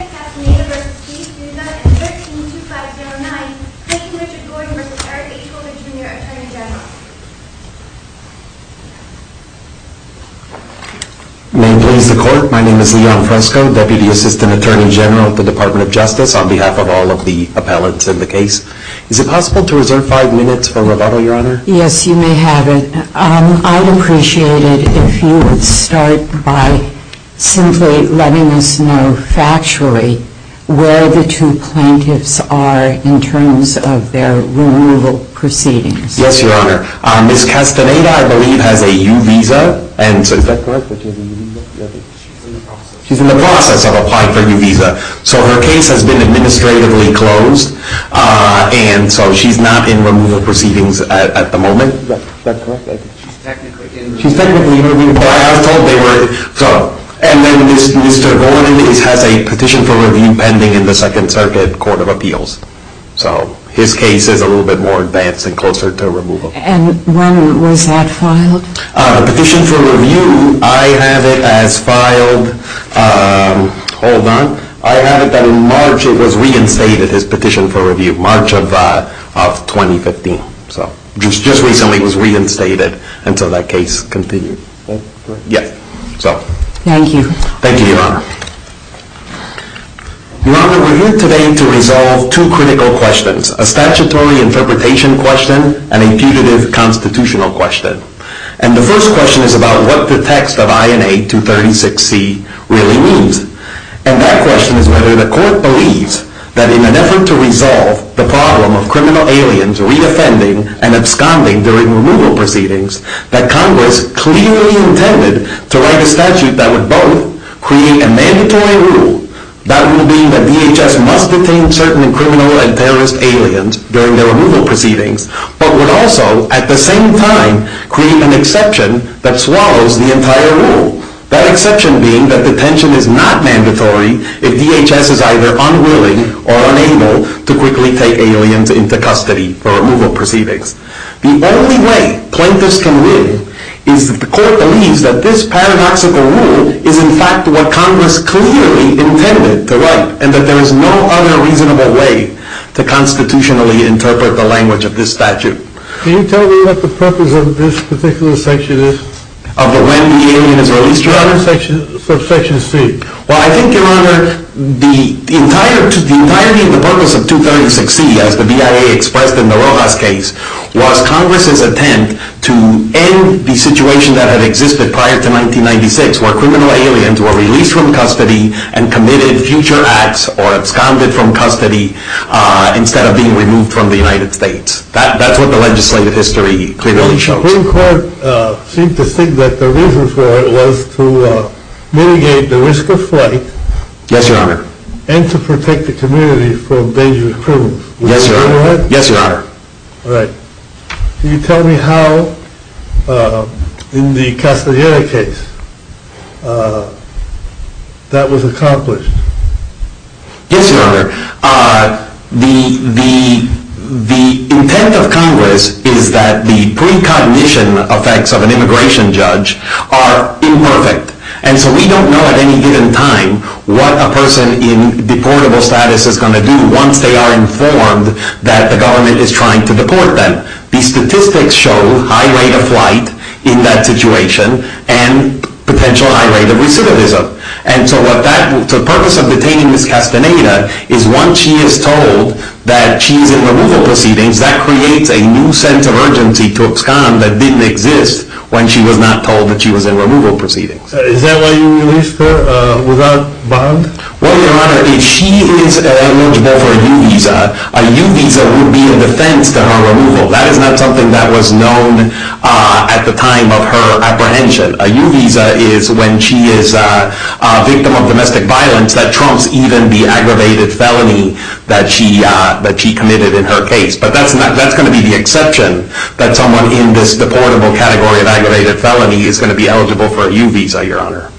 and 13-2509, Craig Richard Gordon v. Eric A. Coleman, Jr., Attorney General. May it please the Court, my name is Leon Fresco, Deputy Assistant Attorney General at the Department of Justice on behalf of all of the appellants in the case. Is it possible to reserve five minutes for rebuttal, Your Honor? Yes, you may have it. I'd appreciate it if you would start by simply letting us know factually where the two plaintiffs are in terms of their removal proceedings. Yes, Your Honor. Ms. Castaneda, I believe, has a U visa. Is that correct? She's in the process of applying for a U visa. So her case has been administratively closed, and so she's not in removal proceedings at the moment? Is that correct? She's technically in removal. She's technically in removal, but I was told they were. And then Mr. Gordon has a petition for review pending in the Second Circuit Court of Appeals. So his case is a little bit more advanced and closer to removal. And when was that filed? The petition for review, I have it as filed, hold on. I have it that in March it was reinstated as petition for review, March of 2015. So it just recently was reinstated until that case continued. Is that correct? Yes. Thank you. Thank you, Your Honor. Your Honor, we're here today to resolve two critical questions, a statutory interpretation question and a punitive constitutional question. And the first question is about what the text of INA 236C really means. And that question is whether the court believes that in an effort to resolve the problem of criminal aliens redefending and absconding during removal proceedings, that Congress clearly intended to write a statute that would both create a mandatory rule, that would mean that DHS must detain certain criminal and terrorist aliens during their removal proceedings, but would also, at the same time, create an exception that swallows the entire rule. That exception being that detention is not mandatory if DHS is either unwilling or unable to quickly take aliens into custody for removal proceedings. The only way plaintiffs can win is if the court believes that this paradoxical rule is in fact what Congress clearly intended to write and that there is no other reasonable way to constitutionally interpret the language of this statute. Can you tell me what the purpose of this particular section is? Of when the alien is released, Your Honor? For Section C. Well, I think, Your Honor, the entirety of the purpose of 236C, as the BIA expressed in the Rojas case, was Congress's attempt to end the situation that had existed prior to 1996, where criminal aliens were released from custody and committed future acts or absconded from custody instead of being removed from the United States. That's what the legislative history clearly shows. The Supreme Court seemed to think that the reason for it was to mitigate the risk of flight Yes, Your Honor. and to protect the community from dangerous criminals. Yes, Your Honor. Would that be correct? Yes, Your Honor. All right. Can you tell me how, in the Castaneda case, that was accomplished? Yes, Your Honor. The intent of Congress is that the precognition effects of an immigration judge are imperfect. And so we don't know at any given time what a person in deportable status is going to do once they are informed that the government is trying to deport them. The statistics show high rate of flight in that situation and potential high rate of recidivism. And so the purpose of detaining Ms. Castaneda is once she is told that she is in removal proceedings, that creates a new sense of urgency to abscond that didn't exist when she was not told that she was in removal proceedings. Is that why you released her without bond? Well, Your Honor, if she is eligible for a U-Visa, a U-Visa would be a defense to her removal. That is not something that was known at the time of her apprehension. A U-Visa is when she is a victim of domestic violence that trumps even the aggravated felony that she committed in her case. But that's going to be the exception that someone in this deportable category of aggravated felony is going to be eligible for a U-Visa, Your Honor.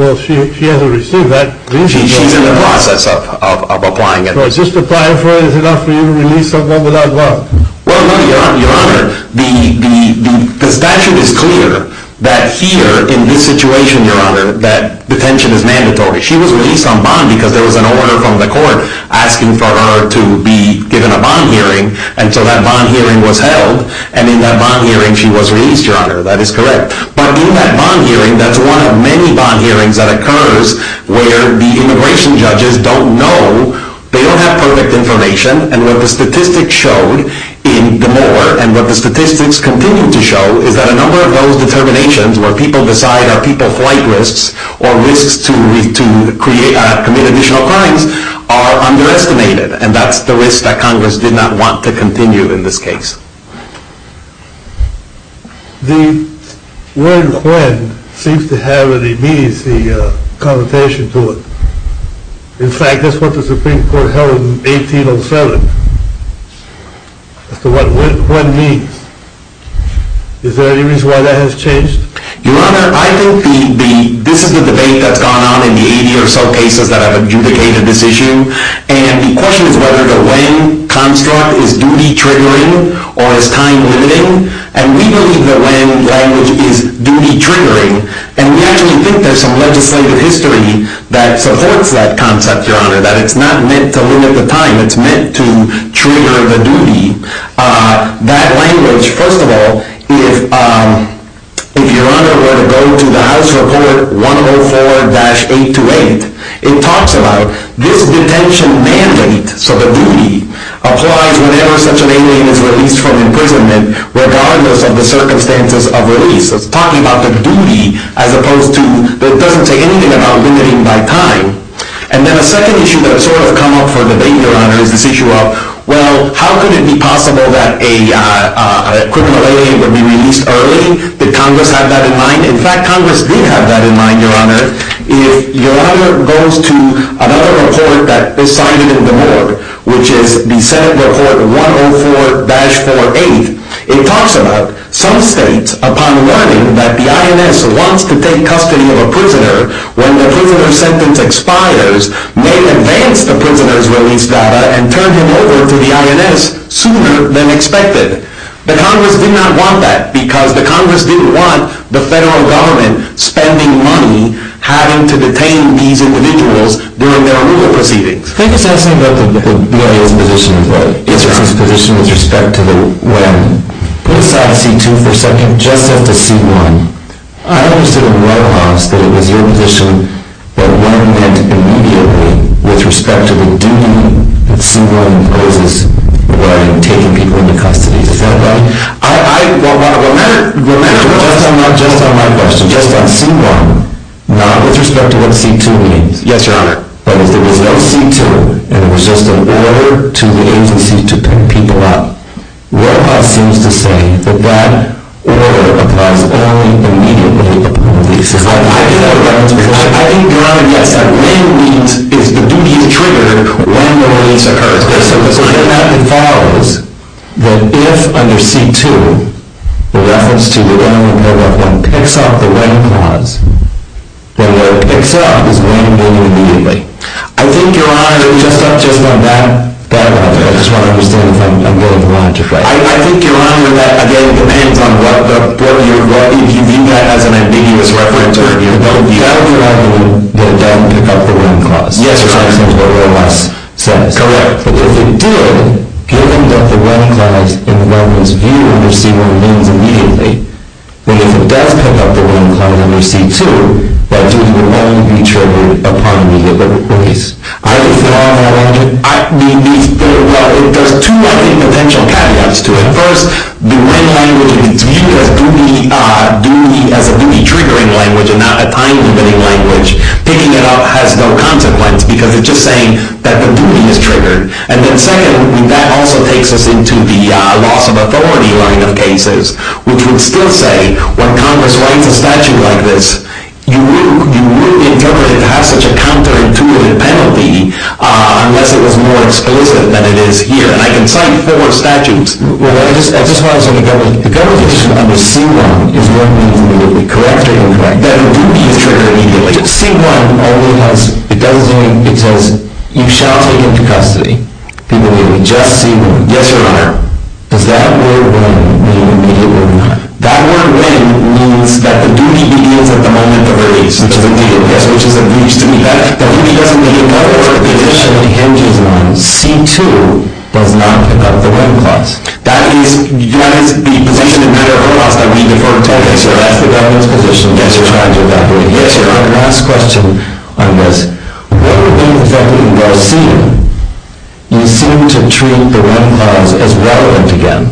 Well, she hasn't received that. She's in the process of applying it. So is just applying for it enough for you to release someone without bond? Well, no, Your Honor. The statute is clear that here in this situation, Your Honor, that detention is mandatory. She was released on bond because there was an order from the court asking for her to be given a bond hearing. And so that bond hearing was held. And in that bond hearing, she was released, Your Honor. That is correct. But in that bond hearing, that's one of many bond hearings that occurs where the immigration judges don't know. They don't have perfect information. And what the statistics showed in DeMoor, and what the statistics continue to show, is that a number of those determinations where people decide are people flight risks or risks to commit additional crimes are underestimated. And that's the risk that Congress did not want to continue in this case. The word when seems to have an immediacy connotation to it. In fact, that's what the Supreme Court held in 1807 as to what when means. Is there any reason why that has changed? Your Honor, I think this is the debate that's gone on in the 80 or so cases that have adjudicated this issue. And the question is whether the when construct is duty-triggering or is time-limiting. And we believe the when language is duty-triggering. And we actually think there's some legislative history that supports that concept, Your Honor, that it's not meant to limit the time. It's meant to trigger the duty. That language, first of all, if Your Honor were to go to the House Report 104-828, it talks about this detention mandate, so the duty, applies whenever such an alien is released from imprisonment, regardless of the circumstances of release. So it's talking about the duty as opposed to it doesn't say anything about limiting by time. And then a second issue that has sort of come up for debate, Your Honor, is this issue of, well, how could it be possible that a criminal alien would be released early? Did Congress have that in mind? In fact, Congress did have that in mind, Your Honor. If Your Honor goes to another report that is cited in the board, which is the Senate Report 104-48, it talks about some states, upon learning that the INS wants to take custody of a prisoner when the prisoner's sentence expires, may advance the prisoner's release data and turn him over to the INS sooner than expected. But Congress did not want that because the Congress didn't want the federal government spending money having to detain these individuals during their removal proceedings. I think it's interesting that the BIA's position is this position with respect to the when. Put aside C-2 for a second, just set to C-1. I understand at no cost that it was your position that when meant immediately with respect to the duty that C-1 imposes regarding taking people into custody. Is that right? Well, not just on my question, just on C-1, not with respect to what C-2 means. Yes, Your Honor. But if there was no C-2 and it was just an order to the agency to pick people up, Roehoff seems to say that that order applies only immediately. I think Your Honor, yes, that when means is the duty to trigger when the release occurs. It follows that if under C-2 the reference to the when of Roehoff 1 picks up the when clause, when Roehoff picks up is when meaning immediately. I think Your Honor, just on that point, I just want to understand if I'm getting the logic right. I think Your Honor, that again, depends on what you view that as an ambiguous reference. That would be one that doesn't pick up the when clause. Yes, Your Honor. That's what Roehoff says. Correct. But if it did, given that the when clause in Roehoff's view under C-1 means immediately, then if it does pick up the when clause under C-2, that duty would only be triggered upon immediate release. I just want to understand. Well, there's two, I think, potential caveats to it. First, the when language in its view as a duty-triggering language and not a time-limiting language, picking it up has no consequence because it's just saying that the duty is triggered. And then second, that also takes us into the loss of authority line of cases, which would still say when Congress writes a statute like this, you wouldn't interpret it to have such a counterintuitive penalty unless it was more explicit than it is here. And I can cite four statutes. Well, that's just why I was going to get one. The conversation under C-1 is what means immediately. Correct or incorrect? That the duty is triggered immediately. C-1 only has, it says, you shall take him to custody. He may be just C-1. Yes, Your Honor. Does that word, when, mean immediately or not? That word, when, means that the duty begins at the moment of release. Yes, which is a breach to me. That doesn't mean that whatever position he hinges on, C-2 does not pick up the when clause. That is, you have his position in federal law that we defer to. Yes, Your Honor. That's the government's position. Yes, Your Honor. I'm trying to evaporate. Yes, Your Honor. My last question on this. What would mean effectively in Garcia, you seem to treat the when clause as relevant again,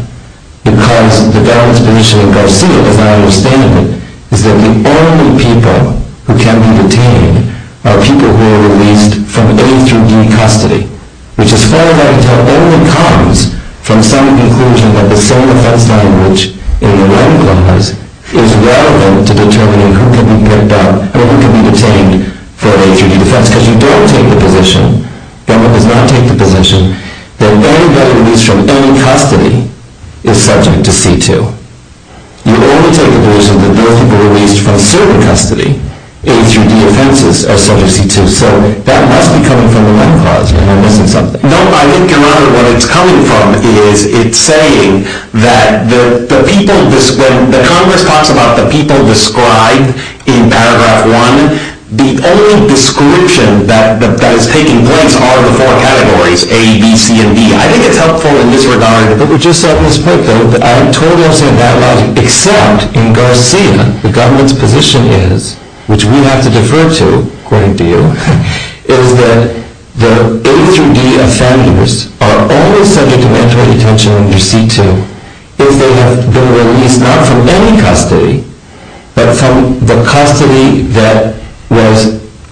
because the government's position in Garcia, if I understand it, is that the only people who can be detained are people who are released from A through D custody, which as far as I can tell only comes from some conclusion that the same defense language in the when clause is relevant to determining who can be picked up or who can be detained for A through D defense, because you don't take the position, government does not take the position, that anybody released from any custody is subject to C-2. You only take the position that those who were released from certain custody, A through D offenses, are subject to C-2. So that must be coming from the when clause. Am I missing something? No, I think, Your Honor, what it's coming from is it's saying that the people, when the Congress talks about the people described in paragraph one, the only description that is taking place are the four categories, A, B, C, and D. I think it's helpful in this regard. But we just said at this point, though, that I totally understand that logic, except in Garcia, the government's position is, which we have to defer to, according to you, is that the A through D offenders are only subject to mandatory detention under C-2 if they have been released not from any custody, but from the custody that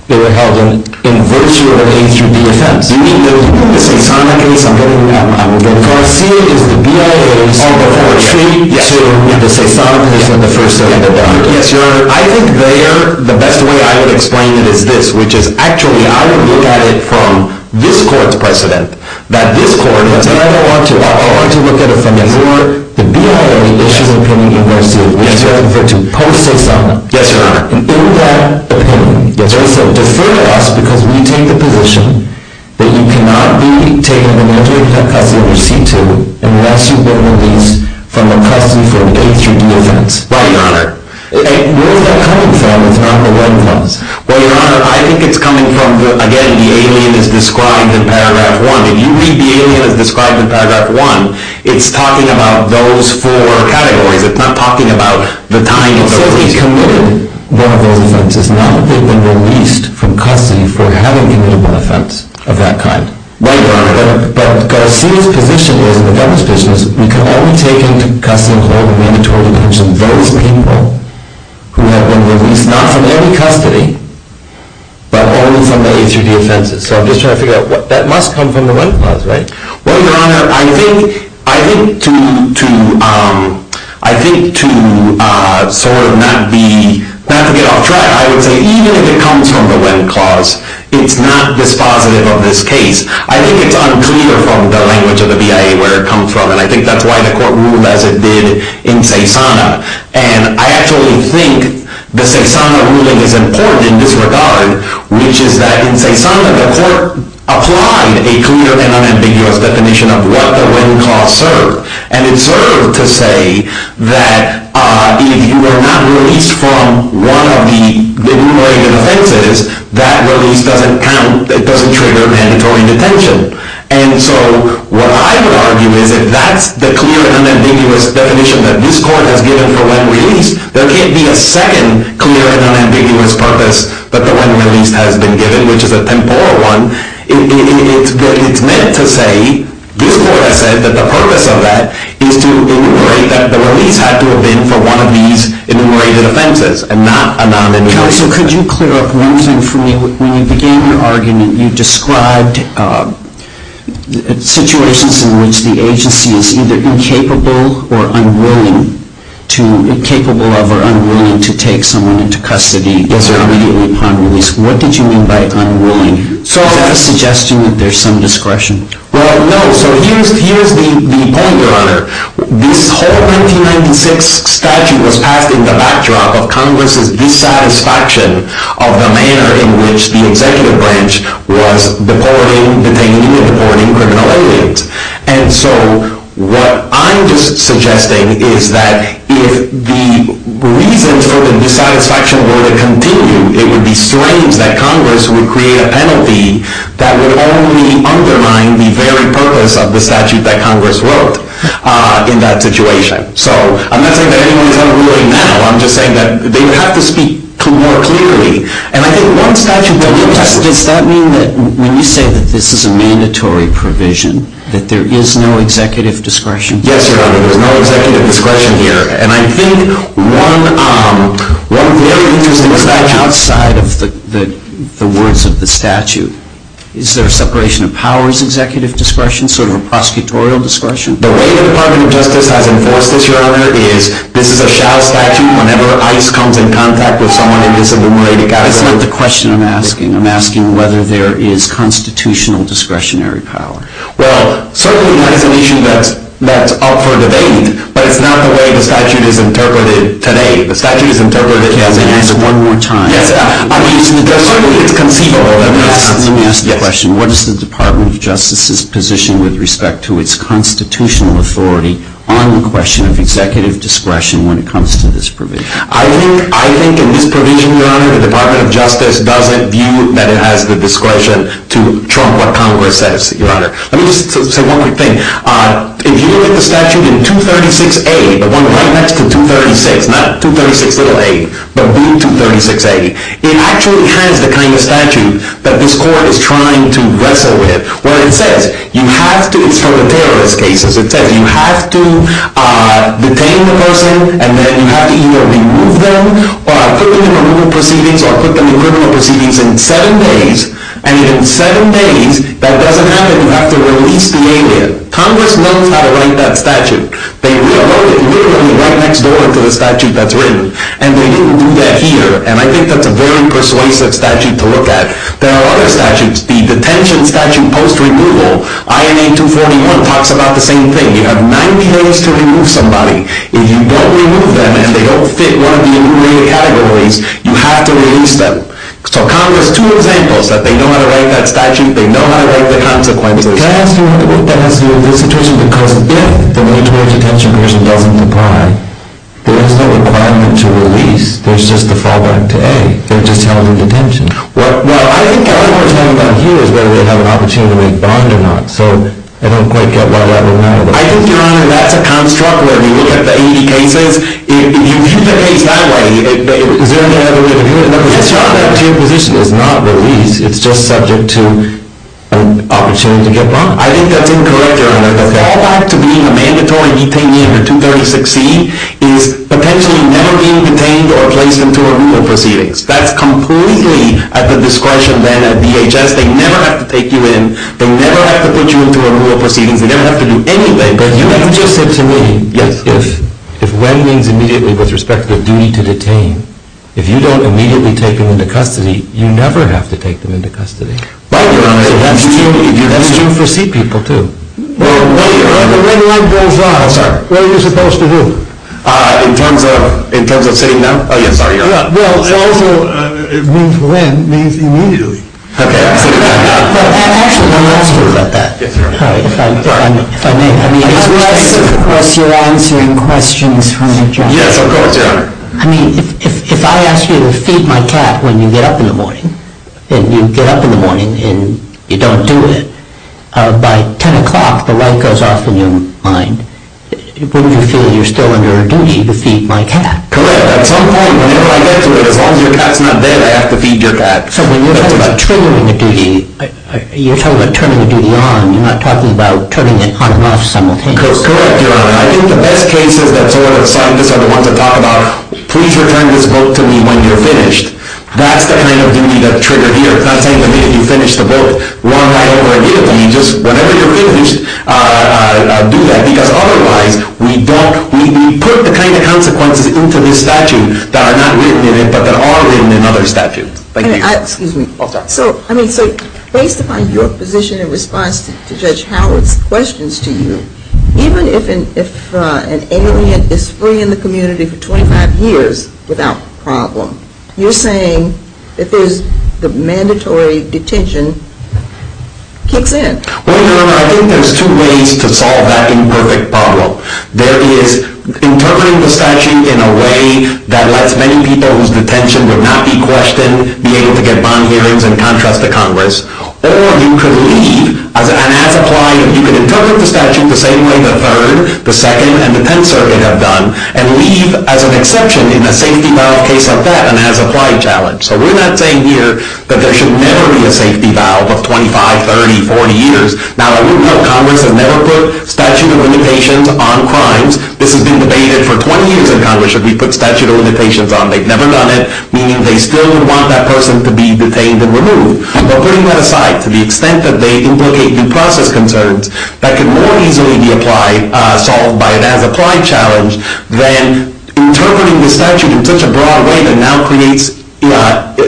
they were held in, in virtue of A through D defense. You mean the Sasonic case? I'm getting that wrong again. Garcia is the BIA's pre-treatment to the Sasonic case in the first instance. Yes, Your Honor. I think there, the best way I would explain it is this, which is, actually, I would look at it from this court's precedent that this court has never wanted to offer. I want to look at it from your, the BIA's, issue's opinion in Garcia, which is you prefer to post-Sasonic. Yes, Your Honor. And in that opinion, they said, defer to us because we take the position that you cannot be taken under mandatory custody under C-2 unless you've been released from the custody for an A through D offense. Right, Your Honor. And where is that coming from? It's not the right clause. Well, Your Honor, I think it's coming from, again, the alien is described in paragraph one. If you read the alien as described in paragraph one, it's talking about those four categories. It's not talking about the tying of those. One of those offenses, not that they've been released from custody for having committed one offense of that kind. Right, Your Honor. But Garcia's position is, and the government's position is, we can only take into custody, according to mandatory detention, those people who have been released, not from any custody, but only from the A through D offenses. So I'm just trying to figure out, that must come from the one clause, right? Well, Your Honor, I think to sort of not be, not to get off track, I would say even if it comes from the one clause, it's not dispositive of this case. I think it's unclear from the language of the BIA where it comes from, and I think that's why the court ruled as it did in CESANA. And I actually think the CESANA ruling is important in this regard, which is that in CESANA, the court applied a clear and unambiguous definition of what the when clause served. And it served to say that if you were not released from one of the numerated offenses, that release doesn't count, it doesn't trigger mandatory detention. And so what I would argue is if that's the clear and unambiguous definition that this court has given for when released, there can't be a second clear and unambiguous purpose that the when release has been given, which is a temporal one. It's meant to say, this court has said that the purpose of that is to enumerate that the release had to have been for one of these enumerated offenses and not a non-enumerated. Counsel, could you clear up one thing for me? When you began your argument, you described situations in which the agency is either incapable of or unwilling to take someone into custody immediately upon release. What did you mean by unwilling? Is that a suggestion that there's some discretion? Well, no. So here's the point, Your Honor. This whole 1996 statute was passed in the backdrop of Congress's dissatisfaction of the manner in which the executive branch was detaining and deporting criminal aliens. And so what I'm just suggesting is that if the reasons for the dissatisfaction were to continue, it would be strange that Congress would create a penalty that would only undermine the very purpose of the statute that Congress wrote in that situation. So I'm not saying that anyone's unwilling now. I'm just saying that they would have to speak more clearly. And I think one statute that we've touched on. Does that mean that when you say that this is a mandatory provision, that there is no executive discretion? Yes, Your Honor. There's no executive discretion here. And I think one very interesting fact outside of the words of the statute, is there a separation of powers executive discretion? Sort of a prosecutorial discretion? The way the Department of Justice has enforced this, Your Honor, is this is a shall statute whenever ICE comes in contact with someone in this enumerated category. That's not the question I'm asking. I'm asking whether there is constitutional discretionary power. Well, certainly that is an issue that's up for debate, but it's not the way the statute is interpreted today. The statute is interpreted as a... Can I ask one more time? Yes. Certainly it's conceivable. Let me ask the question. What is the Department of Justice's position with respect to its constitutional authority on the question of executive discretion when it comes to this provision? I think in this provision, Your Honor, I think the Department of Justice doesn't view that it has the discretion to trump what Congress says, Your Honor. Let me just say one quick thing. If you look at the statute in 236A, the one right next to 236, not 236a, but B236A, it actually has the kind of statute that this court is trying to wrestle with where it says you have to... It's from the terrorist cases. It says you have to detain the person and then you have to either remove them or put them in removal proceedings or put them in criminal proceedings in seven days, and in seven days, that doesn't happen. You have to release the alien. Congress knows how to write that statute. They wrote it literally right next door to the statute that's written, and they didn't do that here, and I think that's a very persuasive statute to look at. There are other statutes. The detention statute post-removal, INA 241, talks about the same thing. You have 90 days to remove somebody. If you don't remove them and they don't fit one of the integrated categories, you have to release them. So Congress has two examples that they know how to write that statute, they know how to write the consequences. Can I ask you what that has to do with this situation? Because if the military detention person doesn't apply, there is no requirement to release. There's just the fallback to A. They're just held in detention. Well, I think what we're talking about here is whether they have an opportunity to make bond or not, so I don't quite get why that would matter. I think, Your Honor, that's a construct where you look at the 80 cases. If you view the case that way, is there any other way to do it? Yes, Your Honor. That detention position is not released. It's just subject to an opportunity to get bond. I think that's incorrect, Your Honor. The fallback to being a mandatory detainee under 236C is potentially never being detained or placed into a rule of proceedings. That's completely at the discretion then of DHS. They never have to take you in. They never have to put you into a rule of proceedings. They never have to do anything. But you just said to me, if when means immediately with respect to the duty to detain, if you don't immediately take them into custody, you never have to take them into custody. Right, Your Honor. That's true for C people, too. When one goes on, what are you supposed to do? In terms of sitting them? Oh, yes, sorry, Your Honor. Well, it also means when means immediately. Okay. Actually, let me ask you about that. Yes, Your Honor. If I may. Unless you're answering questions from a judge. Yes, of course, Your Honor. I mean, if I ask you to feed my cat when you get up in the morning and you get up in the morning and you don't do it, by 10 o'clock the light goes off in your mind, wouldn't you feel you're still under a duty to feed my cat? Correct. At some point, whenever I get to it, as long as your cat's not dead, I have to feed your cat. So when you're talking about triggering a duty, you're talking about turning the duty on. You're not talking about turning it on and off simultaneously. Correct, Your Honor. I think the best cases that sort of sign this are the ones that talk about, please return this book to me when you're finished. That's the kind of duty that's triggered here. It's not saying to me that you finished the book. Wrong. I don't want to give it to you. Just whenever you're finished, do that. Because otherwise, we put the kind of consequences into this statute that are not written in it, but that are written in other statutes. Thank you. Excuse me. So, I mean, based upon your position in response to Judge Howard's questions to you, even if an alien is free in the community for 25 years without problem, you're saying that there's the mandatory detention kicks in. Well, Your Honor, I think there's two ways to solve that imperfect problem. There is interpreting the statute in a way that lets many people whose detention would not be questioned be able to get bond hearings in contrast to Congress. Or you could leave and, as applied, you could interpret the statute the same way the Third, the Second, and the Tenth Circuit have done and leave as an exception in a safety valve case like that and as applied challenge. So we're not saying here that there should never be a safety valve of 25, 30, 40 years. Now, I wouldn't know. Congress has never put statute of limitations on crimes. This has been debated for 20 years in Congress that we put statute of limitations on. They've never done it. Meaning they still would want that person to be detained and removed. But putting that aside, to the extent that they implicate due process concerns, that could more easily be solved by an as-applied challenge than interpreting the statute in such a broad way that now creates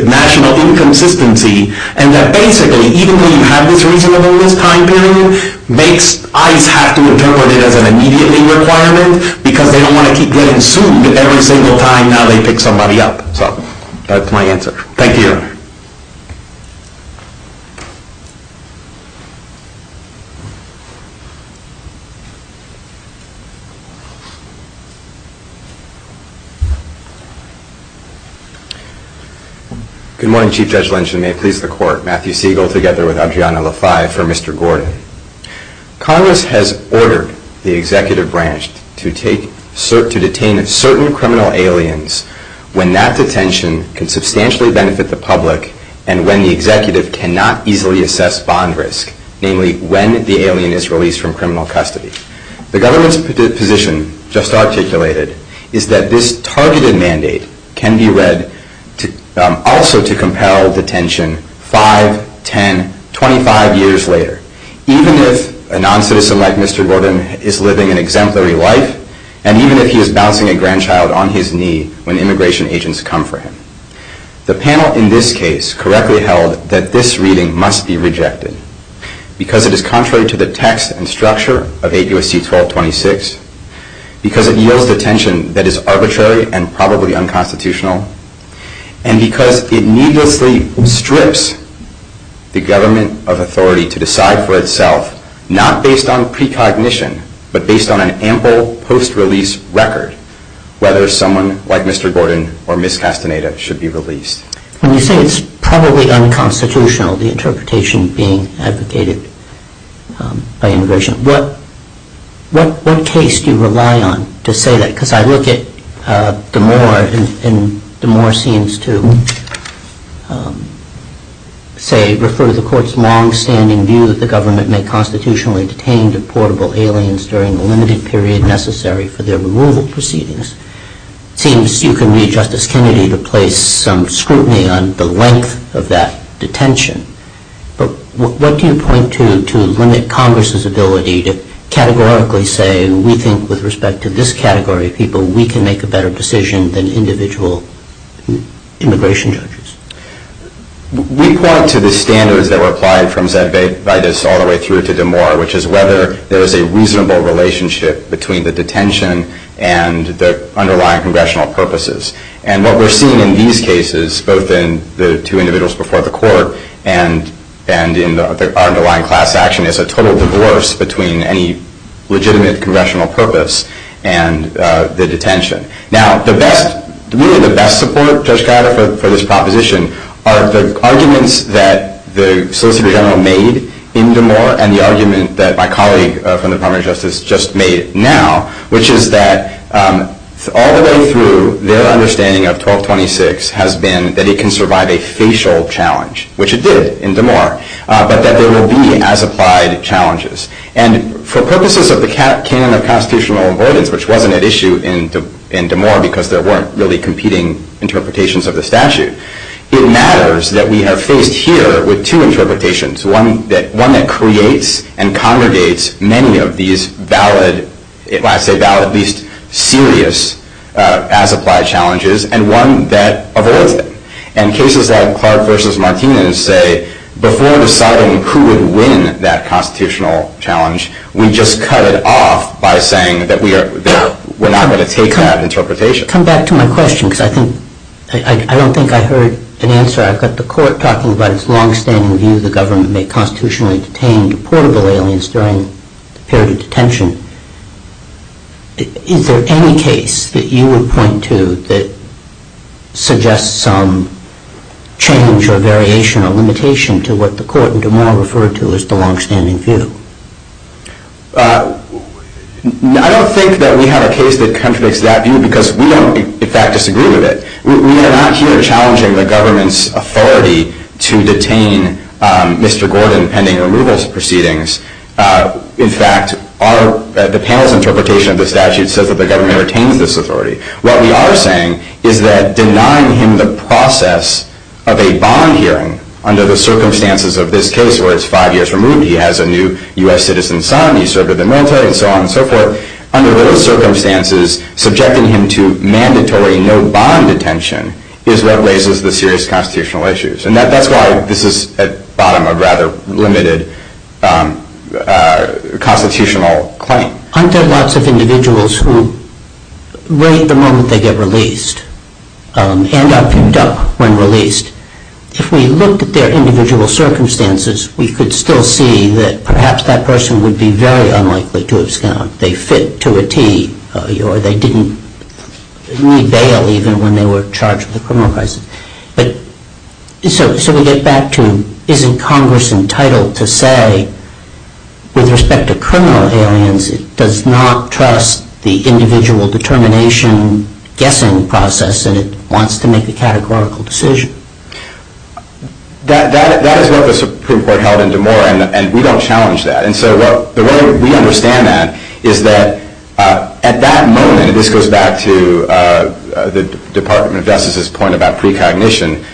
national inconsistency and that basically, even though you have this reasonable list time period, makes ICE have to interpret it as an immediately requirement because they don't want to keep getting sued every single time and now they pick somebody up. So that's my answer. Thank you. Good morning, Chief Judge Lynch. And may it please the court. Matthew Siegel together with Adriana LaFay for Mr. Gordon. Congress has ordered the executive branch to detain certain criminal aliens when that detention can substantially benefit the public and when the executive cannot easily assess bond risk. Namely, when the alien is released from criminal custody. The government's position, just articulated, is that this targeted mandate can be read also to compel detention 5, 10, 25 years later. Even if a non-citizen like Mr. Gordon is living an exemplary life, and even if he is bouncing a grandchild on his knee when immigration agents come for him. The panel in this case correctly held that this reading must be rejected because it is contrary to the text and structure of 8 U.S.C. 1226, because it yields detention that is arbitrary and probably unconstitutional, and because it needlessly strips the government of authority to decide for itself, not based on precognition, but based on an ample post-release record, whether someone like Mr. Gordon or Ms. Castaneda should be released. When you say it's probably unconstitutional, the interpretation being advocated by immigration, what case do you rely on to say that? Because I look at the Moore, and the Moore seems to say, refer to the court's longstanding view that the government may constitutionally detain deportable aliens during the limited period necessary for their removal proceedings. It seems you can need Justice Kennedy to place some scrutiny on the length of that detention. But what do you point to limit Congress's ability to categorically say, we think with respect to this category of people, we can make a better decision than individual immigration judges? We point to the standards that were applied from Zedvede all the way through to DeMoore, which is whether there is a reasonable relationship between the detention and the underlying congressional purposes. And what we're seeing in these cases, both in the two individuals before the court and in our underlying class action, is a total divorce between any legitimate congressional purpose and the detention. Now, really the best support, Judge Cuyata, for this proposition are the arguments that the Solicitor General made in DeMoore and the argument that my colleague from the Department of Justice just made now, which is that all the way through, their understanding of 1226 has been that it can survive a facial challenge, which it did in DeMoore, but that there will be as applied challenges. And for purposes of the canon of constitutional avoidance, which wasn't at issue in DeMoore because there weren't really competing interpretations of the statute, it matters that we are faced here with two interpretations, one that creates and congregates many of these valid, if I say valid, at least serious as-applied challenges, and one that avoids them. And cases like Clark versus Martinez say before deciding who would win that constitutional challenge, we just cut it off by saying that we're not going to take that interpretation. Come back to my question, because I don't think I heard an answer. I've got the court talking about its longstanding view the government may constitutionally detain deportable aliens during the period of detention. to that suggests some change or variation or limitation to what the court in DeMoore referred to as the longstanding view. I don't think that we have a case that contradicts that view, because we don't, in fact, disagree with it. We are not here challenging the government's authority to detain Mr. Gordon pending removal proceedings. In fact, the panel's interpretation of the statute says that the government retains this authority. What we are saying is that denying him the process of a bond hearing under the circumstances of this case, where it's five years from when he has a new US citizen son, he served in the military, and so on and so forth, under those circumstances, subjecting him to mandatory no bond detention is what raises the serious constitutional issues. And that's why this is at the bottom of a rather limited constitutional claim. Aren't there lots of individuals who rate the moment they get released and are picked up when released? If we looked at their individual circumstances, we could still see that perhaps that person would be very unlikely to have scammed. They fit to a tee, or they didn't re-bail even when they were charged with a criminal crisis. So we get back to, isn't Congress entitled to say, with respect to criminal aliens, it does not trust the individual determination guessing process that it wants to make a categorical decision? That is what the Supreme Court held in DeMora, and we don't challenge that. And so the way we understand that is that at that moment, and this goes back to the Department of Justice's point about precognition,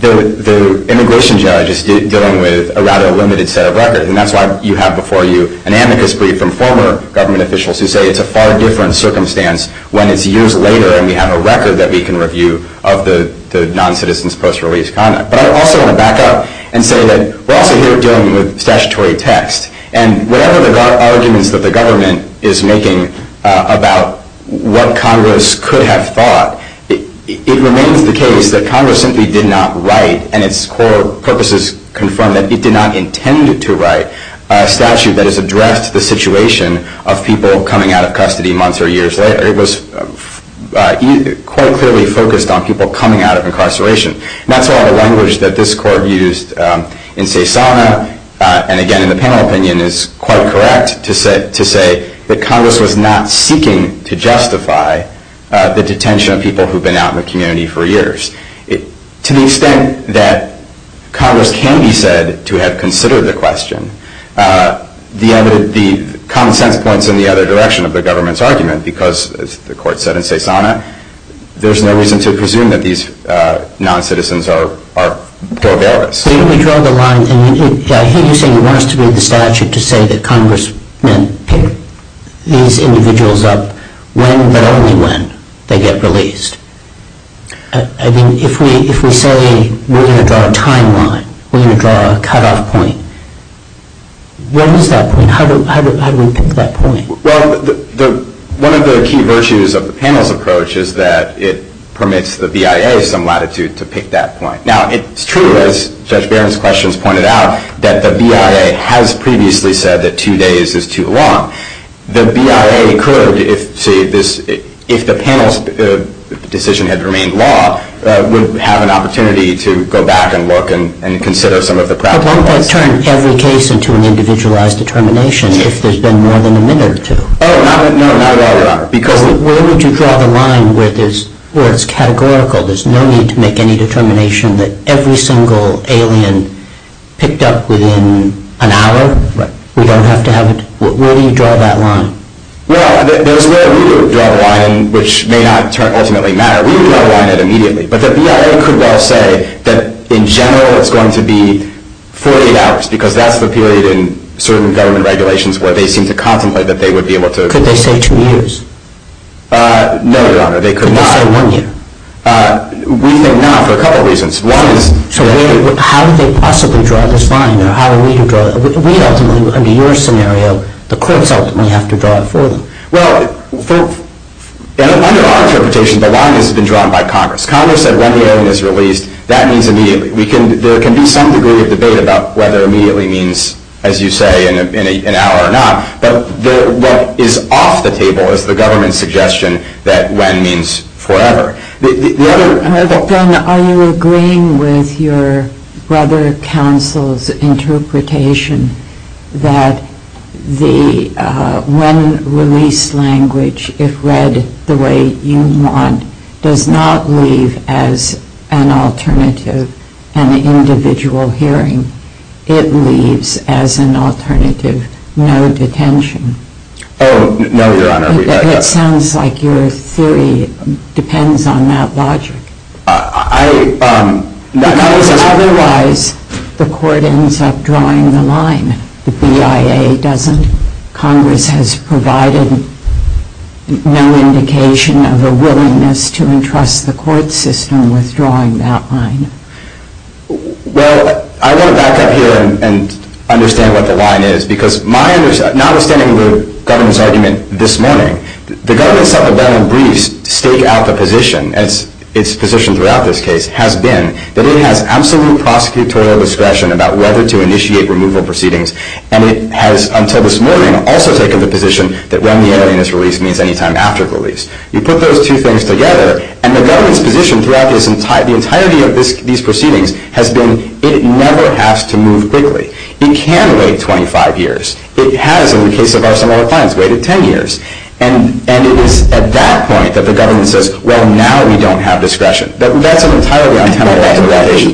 the immigration judge is dealing with a rather limited set of records. And that's why you have before you an amicus brief from former government officials who say it's a far different circumstance when it's years later and we have a record that we can review of the non-citizen's post-release conduct. But I also want to back up and say that we're also here dealing with statutory text. And whatever the arguments that the government is making about what Congress could have thought, it remains the case that Congress simply did not write, and its core purposes confirm that it did not intend to write, a statute that has addressed the situation of people coming out of custody months or years later. It was quite clearly focused on people coming out of incarceration. That's all the language that this court used in Cesana, and again, in the panel opinion, is quite correct to say that Congress was not seeking to justify the detention of people who've been out in the community for years. To the extent that Congress can be said to have considered the question, the common sense points in the other direction of the government's argument, because, as the court said in Cesana, there's no reason to presume that these non-citizens are proverbialists. We draw the line, and I hear you saying you want us to read the statute to say that Congress meant to pick these individuals up when, but only when, they get released. I mean, if we say we're going to draw a timeline, we're going to draw a cutoff point, what is that point? How do we pick that point? Well, one of the key virtues of the panel's approach is that it permits the BIA some latitude to pick that point. Now, it's true, as Judge Barron's questions pointed out, that the BIA has previously said that two days is too long. The BIA could, if the panel's decision had remained law, would have an opportunity to go back and look and consider some of the problems. At one point, turn every case into an individualized determination if there's been more than a minute or two. Oh, not at all, Your Honor. Where would you draw the line where it's categorical? There's no need to make any determination that every single alien picked up within an hour. We don't have to have it. Where do you draw that line? Well, there's where we would draw the line, which may not ultimately matter. We would draw the line at immediately. But the BIA could well say that, in general, it's going to be 48 hours, because that's the period in certain government regulations where they seem to contemplate that they would be able to. Could they say two years? No, Your Honor. They could not. Could they say one year? We think not for a couple of reasons. One is. So how do they possibly draw this line? Or how are we to draw it? We ultimately, under your scenario, the courts ultimately have to draw it for them. Well, under our interpretation, the line has been drawn by Congress. Congress said when the alien is released, that means immediately. There can be some degree of debate about whether immediately means, as you say, in an hour or not. But what is off the table is the government's suggestion that when means forever. Then are you agreeing with your brother counsel's interpretation that when released language, if read the way you want, does not leave as an alternative an individual hearing? It leaves as an alternative no detention. Oh, no, Your Honor. It sounds like your theory depends on that logic. I, um. Otherwise, the court ends up drawing the line. The BIA doesn't. Congress has provided no indication of a willingness to entrust the court system with drawing that line. Well, I want to back up here and understand what the line is. Because my understanding, not understanding the government's argument this morning, the government's supplemental briefs stake out the position, as its position throughout this case, has been that it has absolute prosecutorial discretion about whether to initiate removal proceedings. And it has, until this morning, also taken the position that when the alien is released means any time after the release. You put those two things together, and the government's position throughout the entirety of these proceedings has been it never has to move quickly. It can wait 25 years. It has, in the case of our similar clients, waited 10 years. And it is at that point that the government says, well, now we don't have discretion. That's an entirely untenable expectation.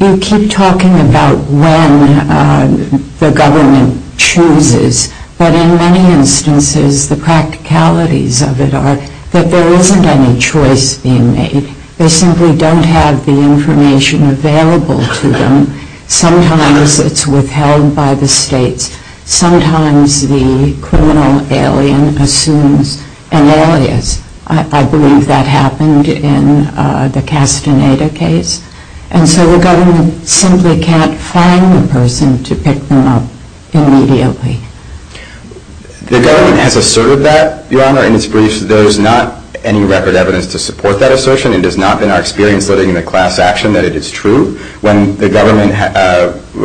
You keep talking about when the government chooses. But in many instances, the practicalities of it are that there isn't any choice being made. They simply don't have the information available to them. Sometimes it's withheld by the states. Sometimes the criminal alien assumes an alias. I believe that happened in the Castaneda case. And so the government simply can't find the person to pick them up immediately. The government has asserted that, Your Honor. In its briefs, there is not any record evidence to support that assertion. It has not been our experience living in a class action that it is true. When the government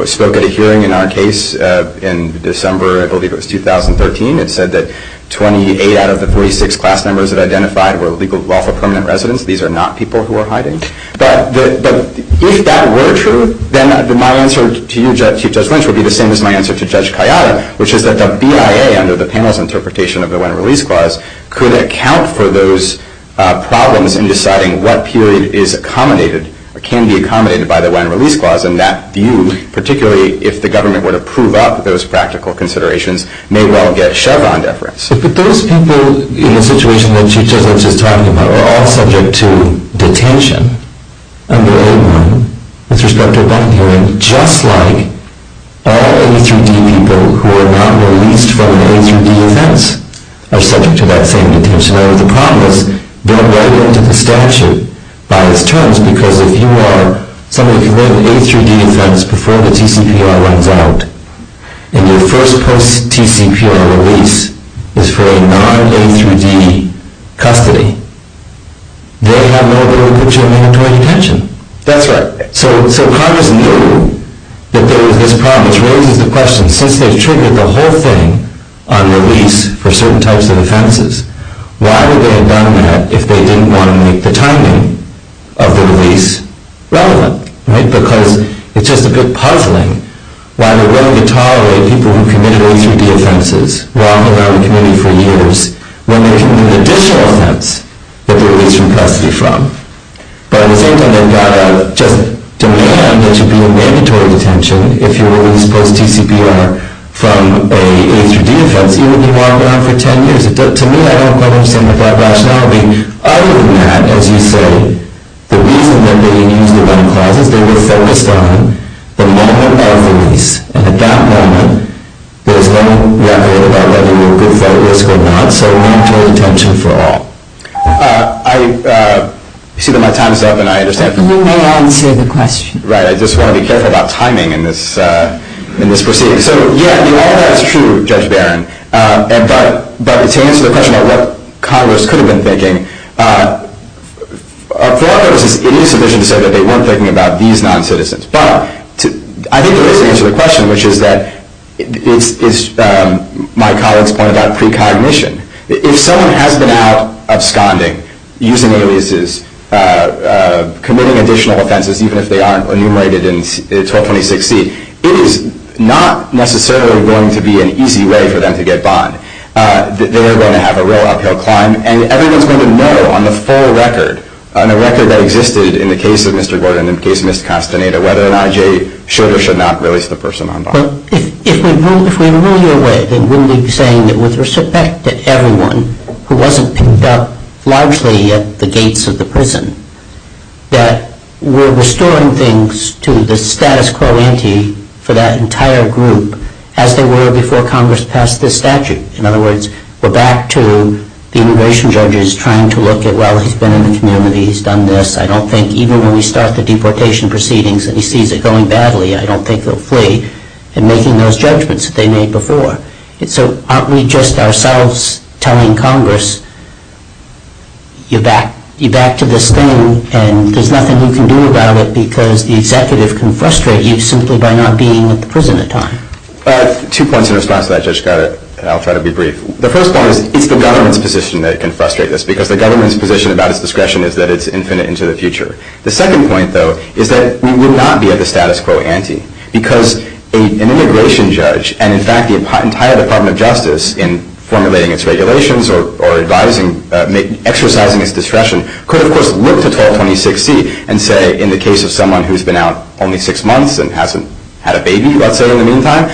spoke at a hearing in our case in December, I believe it was 2013, it said that 28 out of the 46 class members that identified were legal lawful permanent residents. These are not people who are hiding. But if that were true, then my answer to you, Chief Judge Lynch, would be the same as my answer to Judge Cayada, which is that the BIA, under the panel's interpretation of the When Release Clause, could account for those problems in deciding what period is accommodated or can be accommodated by the When Release Clause. And that view, particularly if the government were to prove up those practical considerations, may well get shoved on deference. But those people in the situation that Chief Judge Lynch is talking about are all subject to detention under A1 with respect to a bond hearing, just like all A through D people who are not released from an A through D offense are subject to that same detention. Now, the problem is, going right into the statute by its terms, because if you are somebody who lived an A through D offense before the TCPR runs out, in your first post-TCPR release, is for a non-A through D custody, they have no ability to put you in mandatory detention. That's right. So Congress knew that there was this problem, which raises the question, since they triggered the whole thing on release for certain types of offenses, why would they have done that if they didn't want to make the timing of the release relevant? Right? Because it's just a bit puzzling why they're going to tolerate people who have been around the committee for years when they can do the additional offense that they're released from custody from. But at the same time, they've got to just demand that you be in mandatory detention if you're released post-TCPR from an A through D offense, even if you're locked down for 10 years. To me, I don't quite understand the broad rationality. Other than that, as you say, the reason that they used the bond clauses, they were focused on the moment of release. At that moment, there's no record about whether you were good for at risk or not, so mandatory detention for all. I see that my time is up, and I understand. You may answer the question. Right. I just want to be careful about timing in this proceeding. So yeah, all of that is true, Judge Barron. But to answer the question about what Congress could have been thinking, for one thing, it is sufficient to say that they weren't thinking about these non-citizens. But I think there is an answer to the question, which is that my colleagues pointed out precognition. If someone has been out absconding, using aliases, committing additional offenses, even if they aren't enumerated in 1226C, it is not necessarily going to be an easy way for them to get bond. They are going to have a real uphill climb. And everyone's going to know on the full record, on the record that existed in the case of Mr. Gordon and in case Ms. Castaneda, whether an IJ should or should not release the person on bond. If we rule your way, then wouldn't we be saying that with respect to everyone who wasn't picked up largely at the gates of the prison, that we're restoring things to the status quo ante for that entire group, as they were before Congress passed this statute? In other words, we're back to the immigration judges trying to look at, well, he's been in the community. He's done this. I don't think even when we start the deportation proceedings and he sees it going badly, I don't think he'll flee. And making those judgments that they made before. And so aren't we just ourselves telling Congress, you're back to this thing. And there's nothing you can do about it because the executive can frustrate you simply by not being at the prison in time. Two points in response to that, Judge Scarlett, and I'll try to be brief. The first point is, it's the government's position that can frustrate this, because the government's position about its discretion is that it's infinite into the future. The second point, though, is that we would not be at the status quo ante. Because an immigration judge, and in fact the entire Department of Justice, in formulating its regulations or exercising its discretion, could, of course, look to 1226C and say, in the case of someone who's been out only six months and hasn't had a baby, let's say, in the meantime,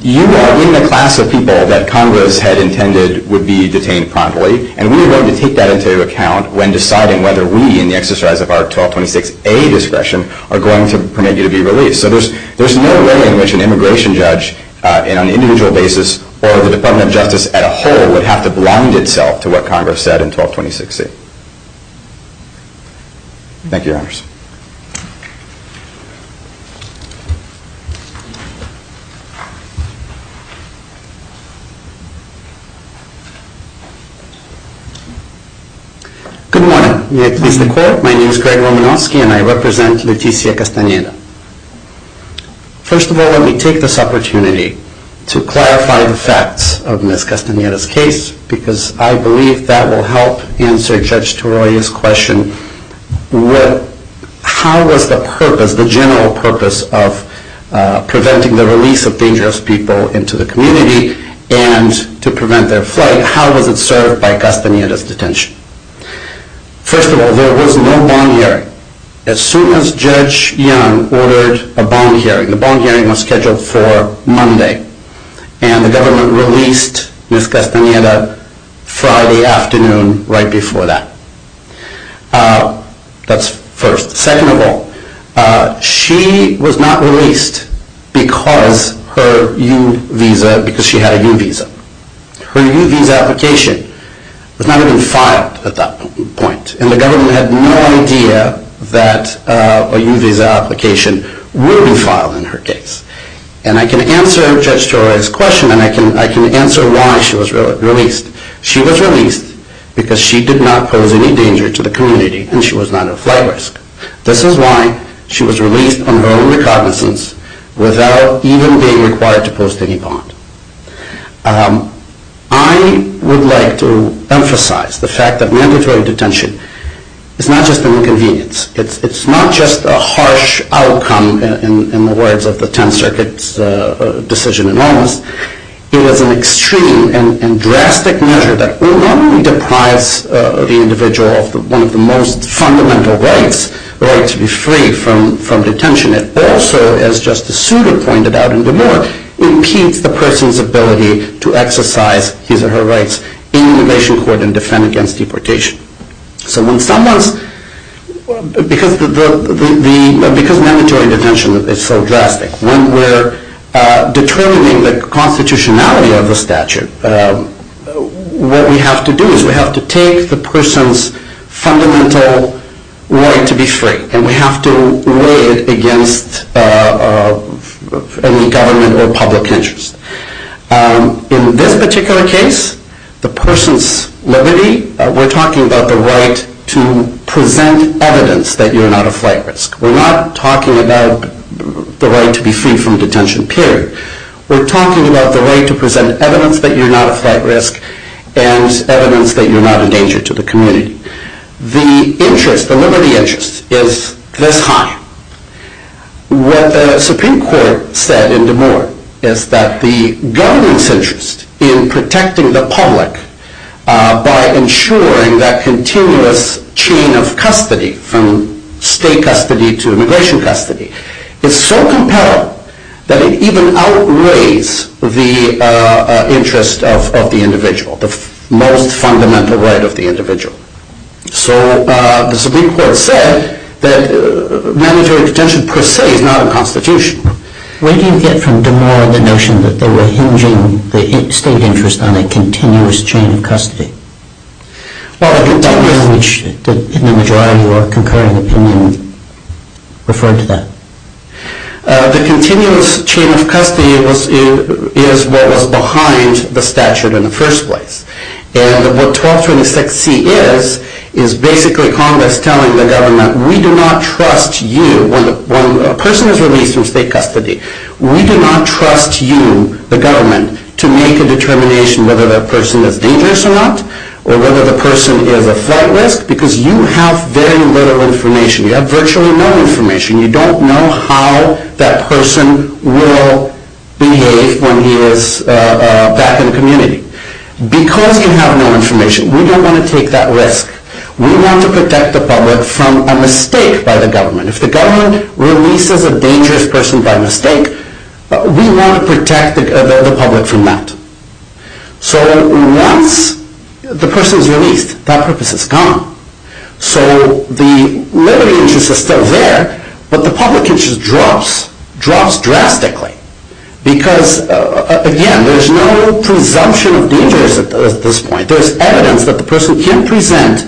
you are in the class of people that Congress had intended would be detained promptly. And we are going to take that into account when deciding whether we, in the exercise of our 1226A discretion, are going to permit you to be released. So there's no way in which an immigration judge, on an individual basis, or the Department of Justice at a whole, would have to blind itself Thank you, Your Honors. Good morning. May it please the Court, my name is Greg Romanofsky and I represent Leticia Castaneda. First of all, let me take this opportunity to clarify the facts of Ms. Castaneda's case, because I believe that will help answer Judge Toroya's question. How was the purpose, the general purpose, of preventing the release of dangerous people into the community and to prevent their flight, and how was it served by Castaneda's detention? First of all, there was no bond hearing. As soon as Judge Young ordered a bond hearing, the bond hearing was scheduled for Monday, and the government released Ms. Castaneda Friday afternoon, right before that. That's first. Second of all, she was not released because her U visa, because she had a U visa. Her U visa application was not even filed at that point, and the government had no idea that a U visa application would be filed in her case. And I can answer Judge Toroya's question, and I can answer why she was released. She was released because she did not pose any danger to the community, and she was not at flight risk. This is why she was released on her own recognizance, without even being required to pose any bond. I would like to emphasize the fact that mandatory detention is not just an inconvenience. It's not just a harsh outcome, in the words of the 10th Circuit's decision in Omas. It was an extreme and drastic measure that not only deprives the individual of one of the most fundamental rights, the right to be free from detention, it also, as Justice Souter pointed out in DeMore, impedes the person's ability to exercise his or her rights in immigration court and defend against deportation. So when someone's... Because mandatory detention is so drastic, when we're determining the constitutionality of the statute, what we have to do is we have to take the person's fundamental right to be free, and we have to weigh it against any government or public interest. In this particular case, the person's liberty, we're talking about the right to present evidence that you're not at flight risk. We're not talking about the right to be free from detention, period. We're talking about the right to present evidence that you're not at flight risk, and evidence that you're not a danger to the community. The interest, the liberty interest, is this high. What the Supreme Court said in DeMore is that the government's interest in protecting the public by ensuring that continuous chain of custody from state custody to immigration custody is so compelling that it even outweighs the interest of the individual, the most fundamental right of the individual. So the Supreme Court said that mandatory detention per se is not a constitution. Where do you get from DeMore the notion that they were hinging the state interest on a continuous chain of custody? Well, the continuous... In the majority or concurring opinion referred to that. The continuous chain of custody is what was behind the statute in the first place. And what 1226C is, is basically Congress telling the government, we do not trust you... When a person is released from state custody, we do not trust you, the government, to make a determination whether that person is dangerous or not, or whether the person is at flight risk, because you have very little information. You have virtually no information. You don't know how that person will behave when he is back in the community. Because you have no information, we don't want to take that risk. We want to protect the public from a mistake by the government. If the government releases a dangerous person by mistake, we want to protect the public from that. So once the person is released, that purpose is gone. So the liberty interest is still there, but the public interest drops, drops drastically, because, again, there is no presumption of danger at this point. There is evidence that the person can present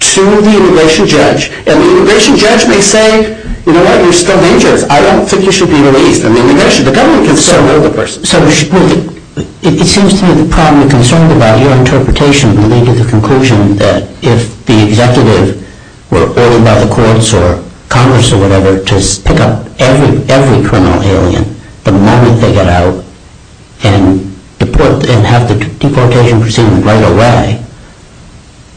to the immigration judge, and the immigration judge may say, you know what, you're still dangerous. I don't think you should be released. And the immigration, the government can still know the person. So it seems to me the problem, the concern about your interpretation, would lead to the conclusion that if the executive were ordered by the courts or Congress or whatever to pick up every criminal alien, the moment they get out and have the deportation proceeding right away,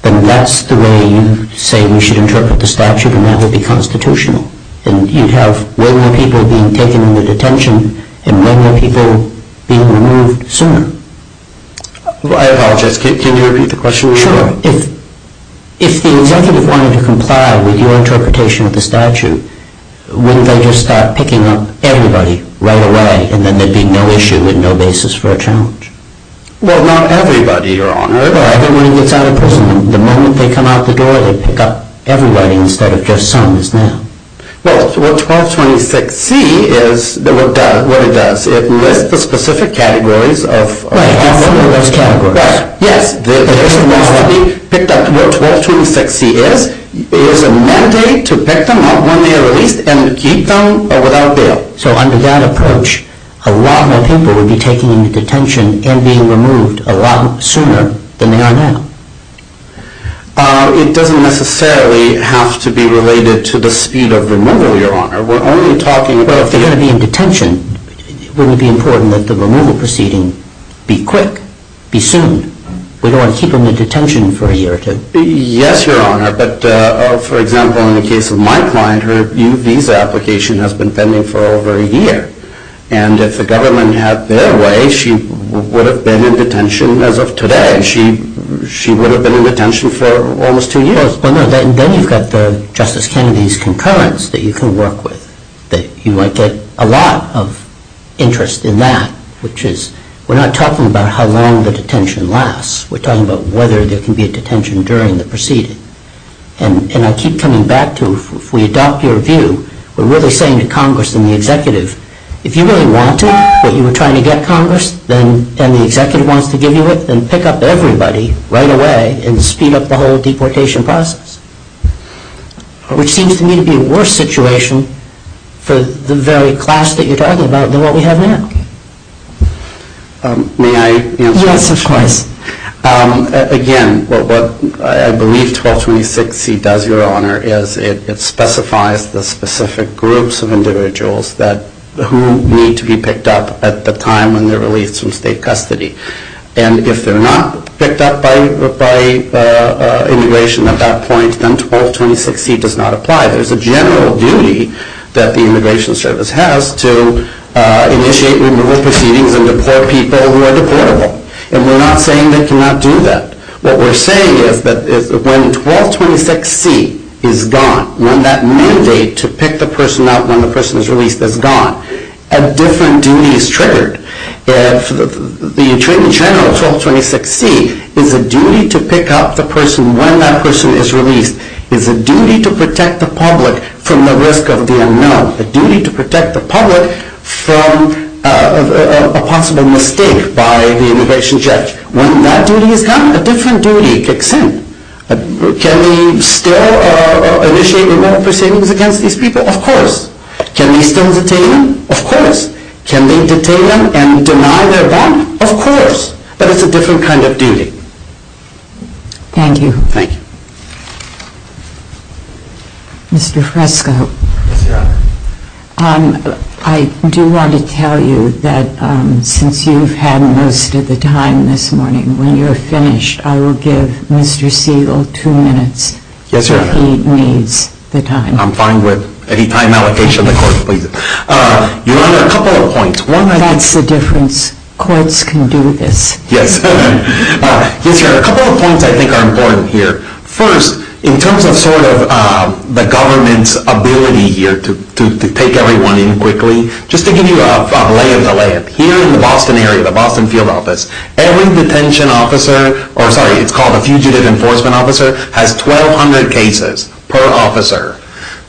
then that's the way you say we should interpret the statute, and that would be constitutional. And you'd have way more people being taken into detention and way more people being removed sooner. I apologize, can you repeat the question? Sure. If the executive wanted to comply with your interpretation of the statute, wouldn't they just start picking up everybody right away, and then there'd be no issue and no basis for a challenge? Well, not everybody, Your Honor. Right, and when he gets out of prison, the moment they come out the door, they pick up everybody instead of just some is now. Well, what 1226C is, what it does, it lists the specific categories of criminals. Right, all four of those categories. Right, yes. It picks up what 1226C is. It is a mandate to pick them up when they are released and keep them without bail. So under that approach, a lot more people would be taken into detention and being removed a lot sooner than they are now. It doesn't necessarily have to be related to the speed of removal, Your Honor. We're only talking about the… Well, if they're going to be in detention, wouldn't it be important that the removal proceeding be quick, be soon? We don't want to keep them in detention for a year or two. Yes, Your Honor, but, for example, in the case of my client, her new visa application has been pending for over a year, and if the government had their way, she would have been in detention as of today. She would have been in detention for almost two years. Well, no, then you've got Justice Kennedy's concurrence that you can work with, that you might get a lot of interest in that, which is, we're not talking about how long the detention lasts. We're talking about whether there can be a detention during the proceeding. And I keep coming back to, if we adopt your view, we're really saying to Congress and the executive, if you really want it, what you were trying to get Congress, and the executive wants to give you it, then pick up everybody right away and speed up the whole deportation process, which seems to me to be a worse situation for the very class that you're talking about than what we have now. May I answer that question? Yes, of course. Again, what I believe 1226C does, Your Honor, is it specifies the specific groups of individuals who need to be picked up at the time when they're released from state custody. And if they're not picked up by immigration at that point, then 1226C does not apply. There's a general duty that the Immigration Service has to initiate removal proceedings and deport people who are deportable. And we're not saying they cannot do that. What we're saying is that when 1226C is gone, when that mandate to pick the person up when the person is released is gone, a different duty is triggered. And the general 1226C is a duty to pick up the person when that person is released. It's a duty to protect the public from the risk of the unknown. A duty to protect the public from a possible mistake by the immigration judge. When that duty is gone, a different duty kicks in. Can we still initiate removal proceedings against these people? Of course. Can we still detain them? Of course. Can we detain them and deny their bond? Of course. But it's a different kind of duty. Thank you. Thank you. Mr. Fresco. Yes, Your Honor. I do want to tell you that since you've had most of the time this morning, when you're finished, I will give Mr. Siegel two minutes. Yes, Your Honor. If he needs the time. I'm fine with any time allocation the court pleases. Your Honor, a couple of points. That's the difference. Courts can do this. Yes. Yes, Your Honor. A couple of points I think are important here. First, in terms of sort of the government's ability here to take everyone in quickly, just to give you a lay of the land, here in the Boston area, the Boston field office, every detention officer, or sorry, it's called a fugitive enforcement officer, has 1,200 cases per officer.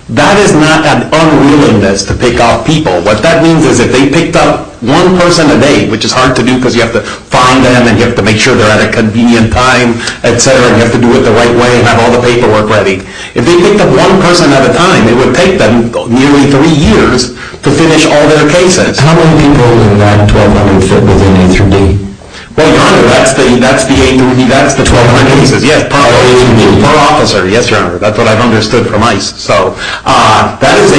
That is not an unwillingness to pick off people. What that means is if they picked up one person a day, which is hard to do because you have to find them and you have to make sure they're at a convenient time, et cetera, you have to do it the right way and have all the paperwork ready. If they picked up one person at a time, it would take them nearly three years to finish all their cases. How many people in that 1,200 fit within day three? Well, Your Honor, that's the 1,200 cases. Yes, per officer. Yes, Your Honor. That's what I've understood from ICE. That is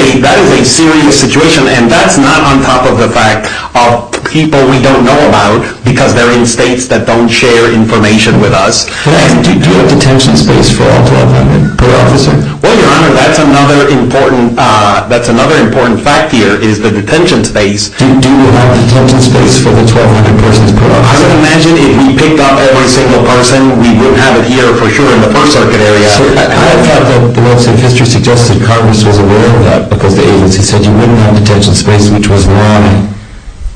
a serious situation, and that's not on top of the fact of people we don't know about because they're in states that don't share information with us. But do you have detention space for all 1,200 per officer? Well, Your Honor, that's another important fact here is the detention space. Do you have detention space for the 1,200 persons per officer? I would imagine if we picked up every single person, we wouldn't have it here, for sure, in the First Circuit area. I have heard that the laws of history suggested Congress was aware of that because the agency said you wouldn't have detention space, which was why,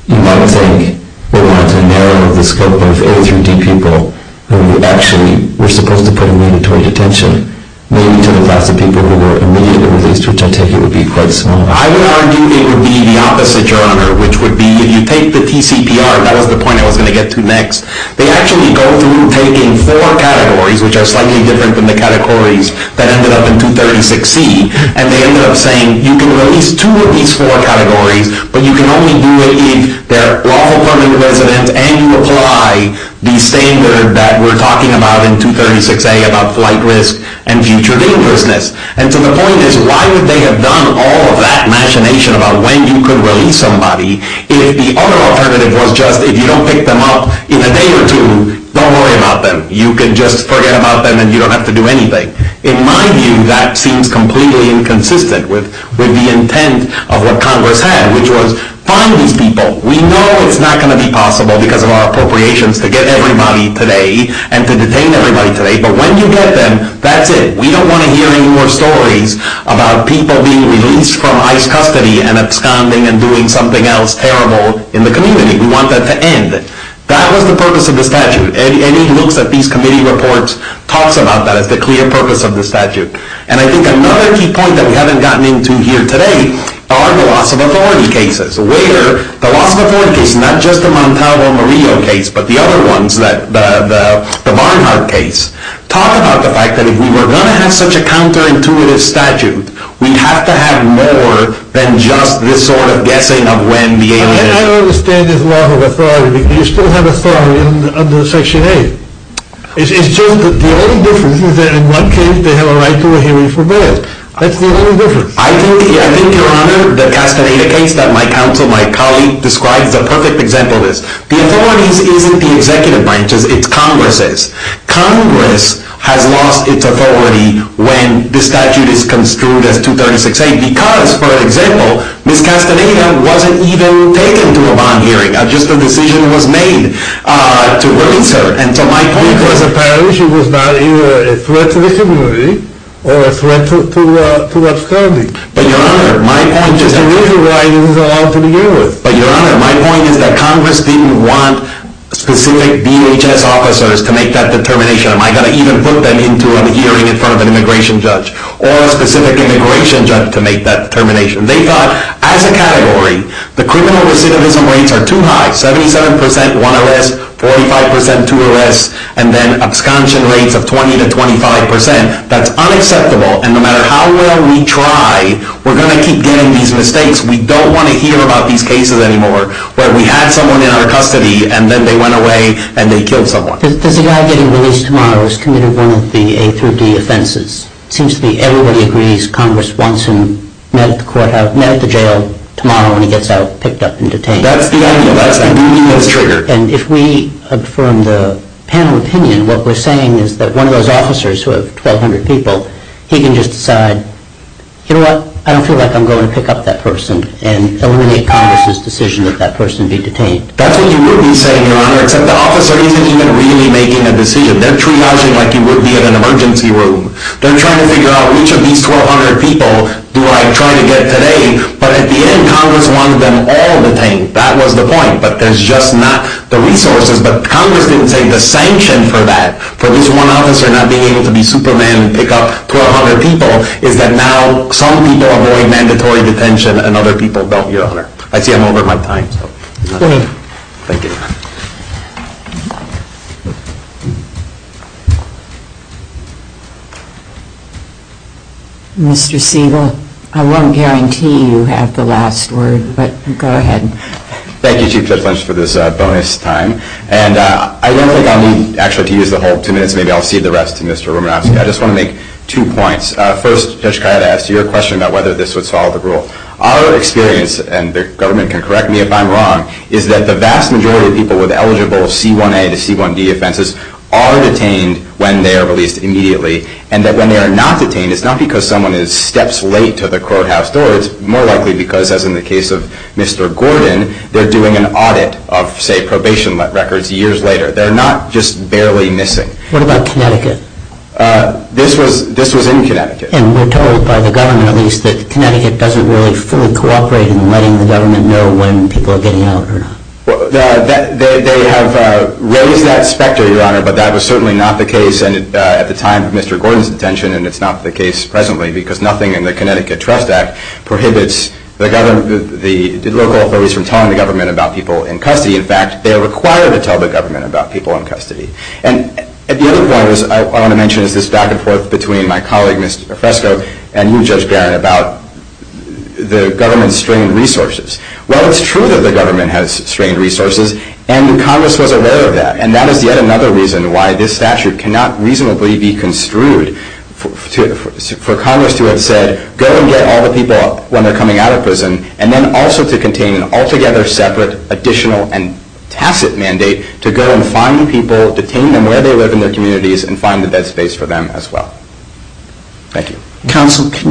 you might think, we wanted to narrow the scope of A through D people who actually were supposed to put in mandatory detention, maybe to the class of people who were immediately released, which I take it would be quite small. I would argue it would be the opposite, Your Honor, which would be if you take the TCPR, that was the point I was going to get to next, they actually go through taking four categories, which are slightly different than the categories that ended up in 236C, and they ended up saying you can release two of these four categories, but you can only do it if they're all permanent residents and you apply the standard that we're talking about in 236A about flight risk and future dangerousness. And so the point is, why would they have done all of that machination about when you could release somebody if the other alternative was just if you don't pick them up in a day or two, don't worry about them. You can just forget about them and you don't have to do anything. In my view, that seems completely inconsistent with the intent of what Congress had, which was find these people. We know it's not going to be possible because of our appropriations to get everybody today and to detain everybody today, but when you get them, that's it. We don't want to hear any more stories about people being released from ICE custody and absconding and doing something else terrible in the community. We want that to end. That was the purpose of the statute, and it looks at these committee reports, talks about that as the clear purpose of the statute. And I think another key point that we haven't gotten into here today are the loss of authority cases, where the loss of authority case, not just the Montalvo-Morillo case, but the other ones, the Barnhart case, talk about the fact that if we were going to have such a counterintuitive statute, we'd have to have more than just this sort of guessing of when the aliens... I don't understand this loss of authority because you still have authority under Section 8. It's just that the only difference is that in one case, they have a right to a hearing for birth. That's the only difference. I think, Your Honor, the Castaneda case that my counsel, my colleague, describes is a perfect example of this. The authorities isn't the executive branches. It's Congresses. Congress has lost its authority when the statute is construed as 236A because, for example, Ms. Castaneda wasn't even taken to a bond hearing. Just a decision was made to release her. So my point was apparently she was not either a threat to the community or a threat to what's coming. But, Your Honor, my point is that... That's the reason why it isn't allowed to be given. But, Your Honor, my point is that Congress didn't want specific BHS officers to make that determination. Am I going to even put them into a hearing in front of an immigration judge or a specific immigration judge to make that determination? They thought, as a category, the criminal recidivism rates are too high. 77% one arrest, 45% two arrests, and then absconsion rates of 20% to 25%. That's unacceptable. And no matter how well we try, we're going to keep getting these mistakes. We don't want to hear about these cases anymore where we had someone in our custody and then they went away and they killed someone. Does the guy getting released tomorrow is committed one of the A through D offenses? It seems to me everybody agrees Congress wants him met at the court, met at the jail tomorrow when he gets out, picked up, and detained. That's the idea. That's the new U.S. trigger. And if we affirm the panel opinion, what we're saying is that one of those officers who have 1,200 people, he can just decide, you know what? I don't feel like I'm going to pick up that person and eliminate Congress's decision that that person be detained. That's what you would be saying, Your Honor, except the officer isn't even really making a decision. They're triaging like you would be in an emergency room. They're trying to figure out which of these 1,200 people do I try to get today, but at the end Congress wants them all detained. That was the point. But there's just not the resources. But Congress didn't say the sanction for that, for this one officer not being able to be Superman and pick up 1,200 people, is that now some people avoid mandatory detention and other people don't, Your Honor. I see I'm over my time. Thank you. Mr. Siegel, I won't guarantee you have the last word, but go ahead. Thank you, Chief Judge Lynch, for this bonus time. And I don't think I'll need, actually, to use the whole two minutes. Maybe I'll cede the rest to Mr. Romanowski. I just want to make two points. First, Judge Kaya, to ask you a question about whether this would solve the rule. and the government can correct me if I'm wrong, is that the vast majority of people who have been detained with eligible C1A to C1D offenses are detained when they are released immediately. And that when they are not detained, it's not because someone steps late to the courthouse door. It's more likely because, as in the case of Mr. Gordon, they're doing an audit of, say, probation records years later. They're not just barely missing. What about Connecticut? This was in Connecticut. And we're told by the government, at least, that Connecticut doesn't really fully cooperate in letting the government know when people are getting out or not. They have raised that specter, Your Honor, but that was certainly not the case at the time of Mr. Gordon's detention, and it's not the case presently, because nothing in the Connecticut Trust Act prohibits the local authorities from telling the government about people in custody. In fact, they are required to tell the government about people in custody. And the other point I want to mention is this back and forth between my colleague, Mr. Fresco, and you, Judge Barron, about the government's strained resources. Well, it's true that the government has strained resources, and Congress was aware of that, and that is yet another reason why this statute cannot reasonably be construed for Congress to have said, go and get all the people when they're coming out of prison, and then also to contain an altogether separate, additional, and tacit mandate to go and find people, detain them where they live in their communities, and find the dead space for them as well. Thank you. Counsel, can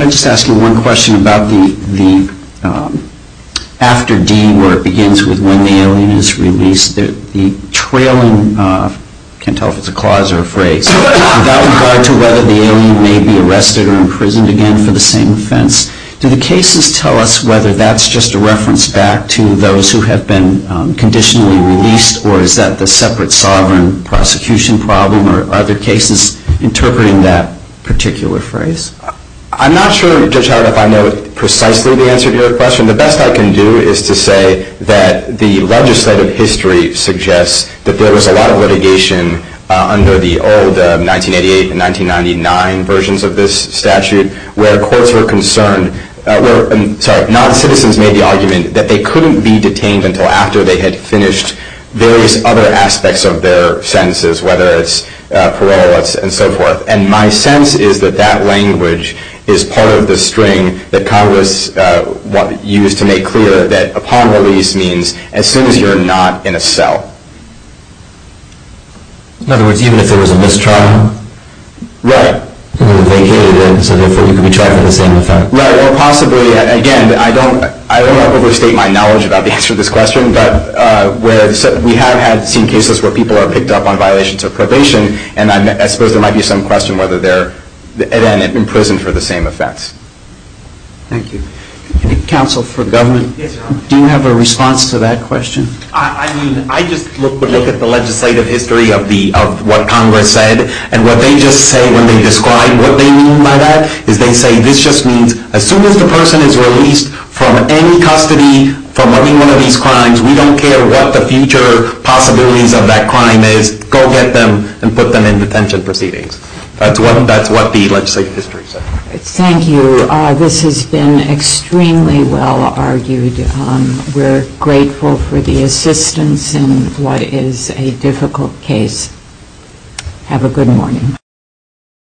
I just ask you one question about the after D, where it begins with when the alien is released, the trailing, I can't tell if it's a clause or a phrase, without regard to whether the alien may be arrested or imprisoned again for the same offense. Do the cases tell us whether that's just a reference back to those who have been conditionally released, or is that the separate sovereign prosecution problem, or are there cases interpreting that particular phrase? I'm not sure, Judge Howard, if I know precisely the answer to your question. The best I can do is to say that the legislative history suggests that there was a lot of litigation under the old 1988 and 1999 versions of this statute, where courts were concerned, sorry, non-citizens made the argument that they couldn't be detained until after they had finished various other aspects of their sentences, whether it's parole and so forth. And my sense is that that language is part of the string that Congress used to make clear that upon release means as soon as you're not in a cell. In other words, even if there was a mistrial? Right. Even if they hated it, so therefore you could be tried for the same offense. Right, or possibly, again, I don't want to overstate my knowledge about the answer to this question, but we have seen cases where people are picked up on violations of probation, and I suppose there might be some question whether they're put in and imprisoned for the same offense. Thank you. Counsel for government, do you have a response to that question? I just look at the legislative history of what Congress said, and what they just say when they describe what they mean by that is they say this just means as soon as the person is released from any custody from any one of these crimes, we don't care what the future possibilities of that crime is, go get them and put them in detention proceedings. That's what the legislative history said. Thank you. This has been extremely well argued. We're grateful for the assistance in what is a difficult case. Have a good morning.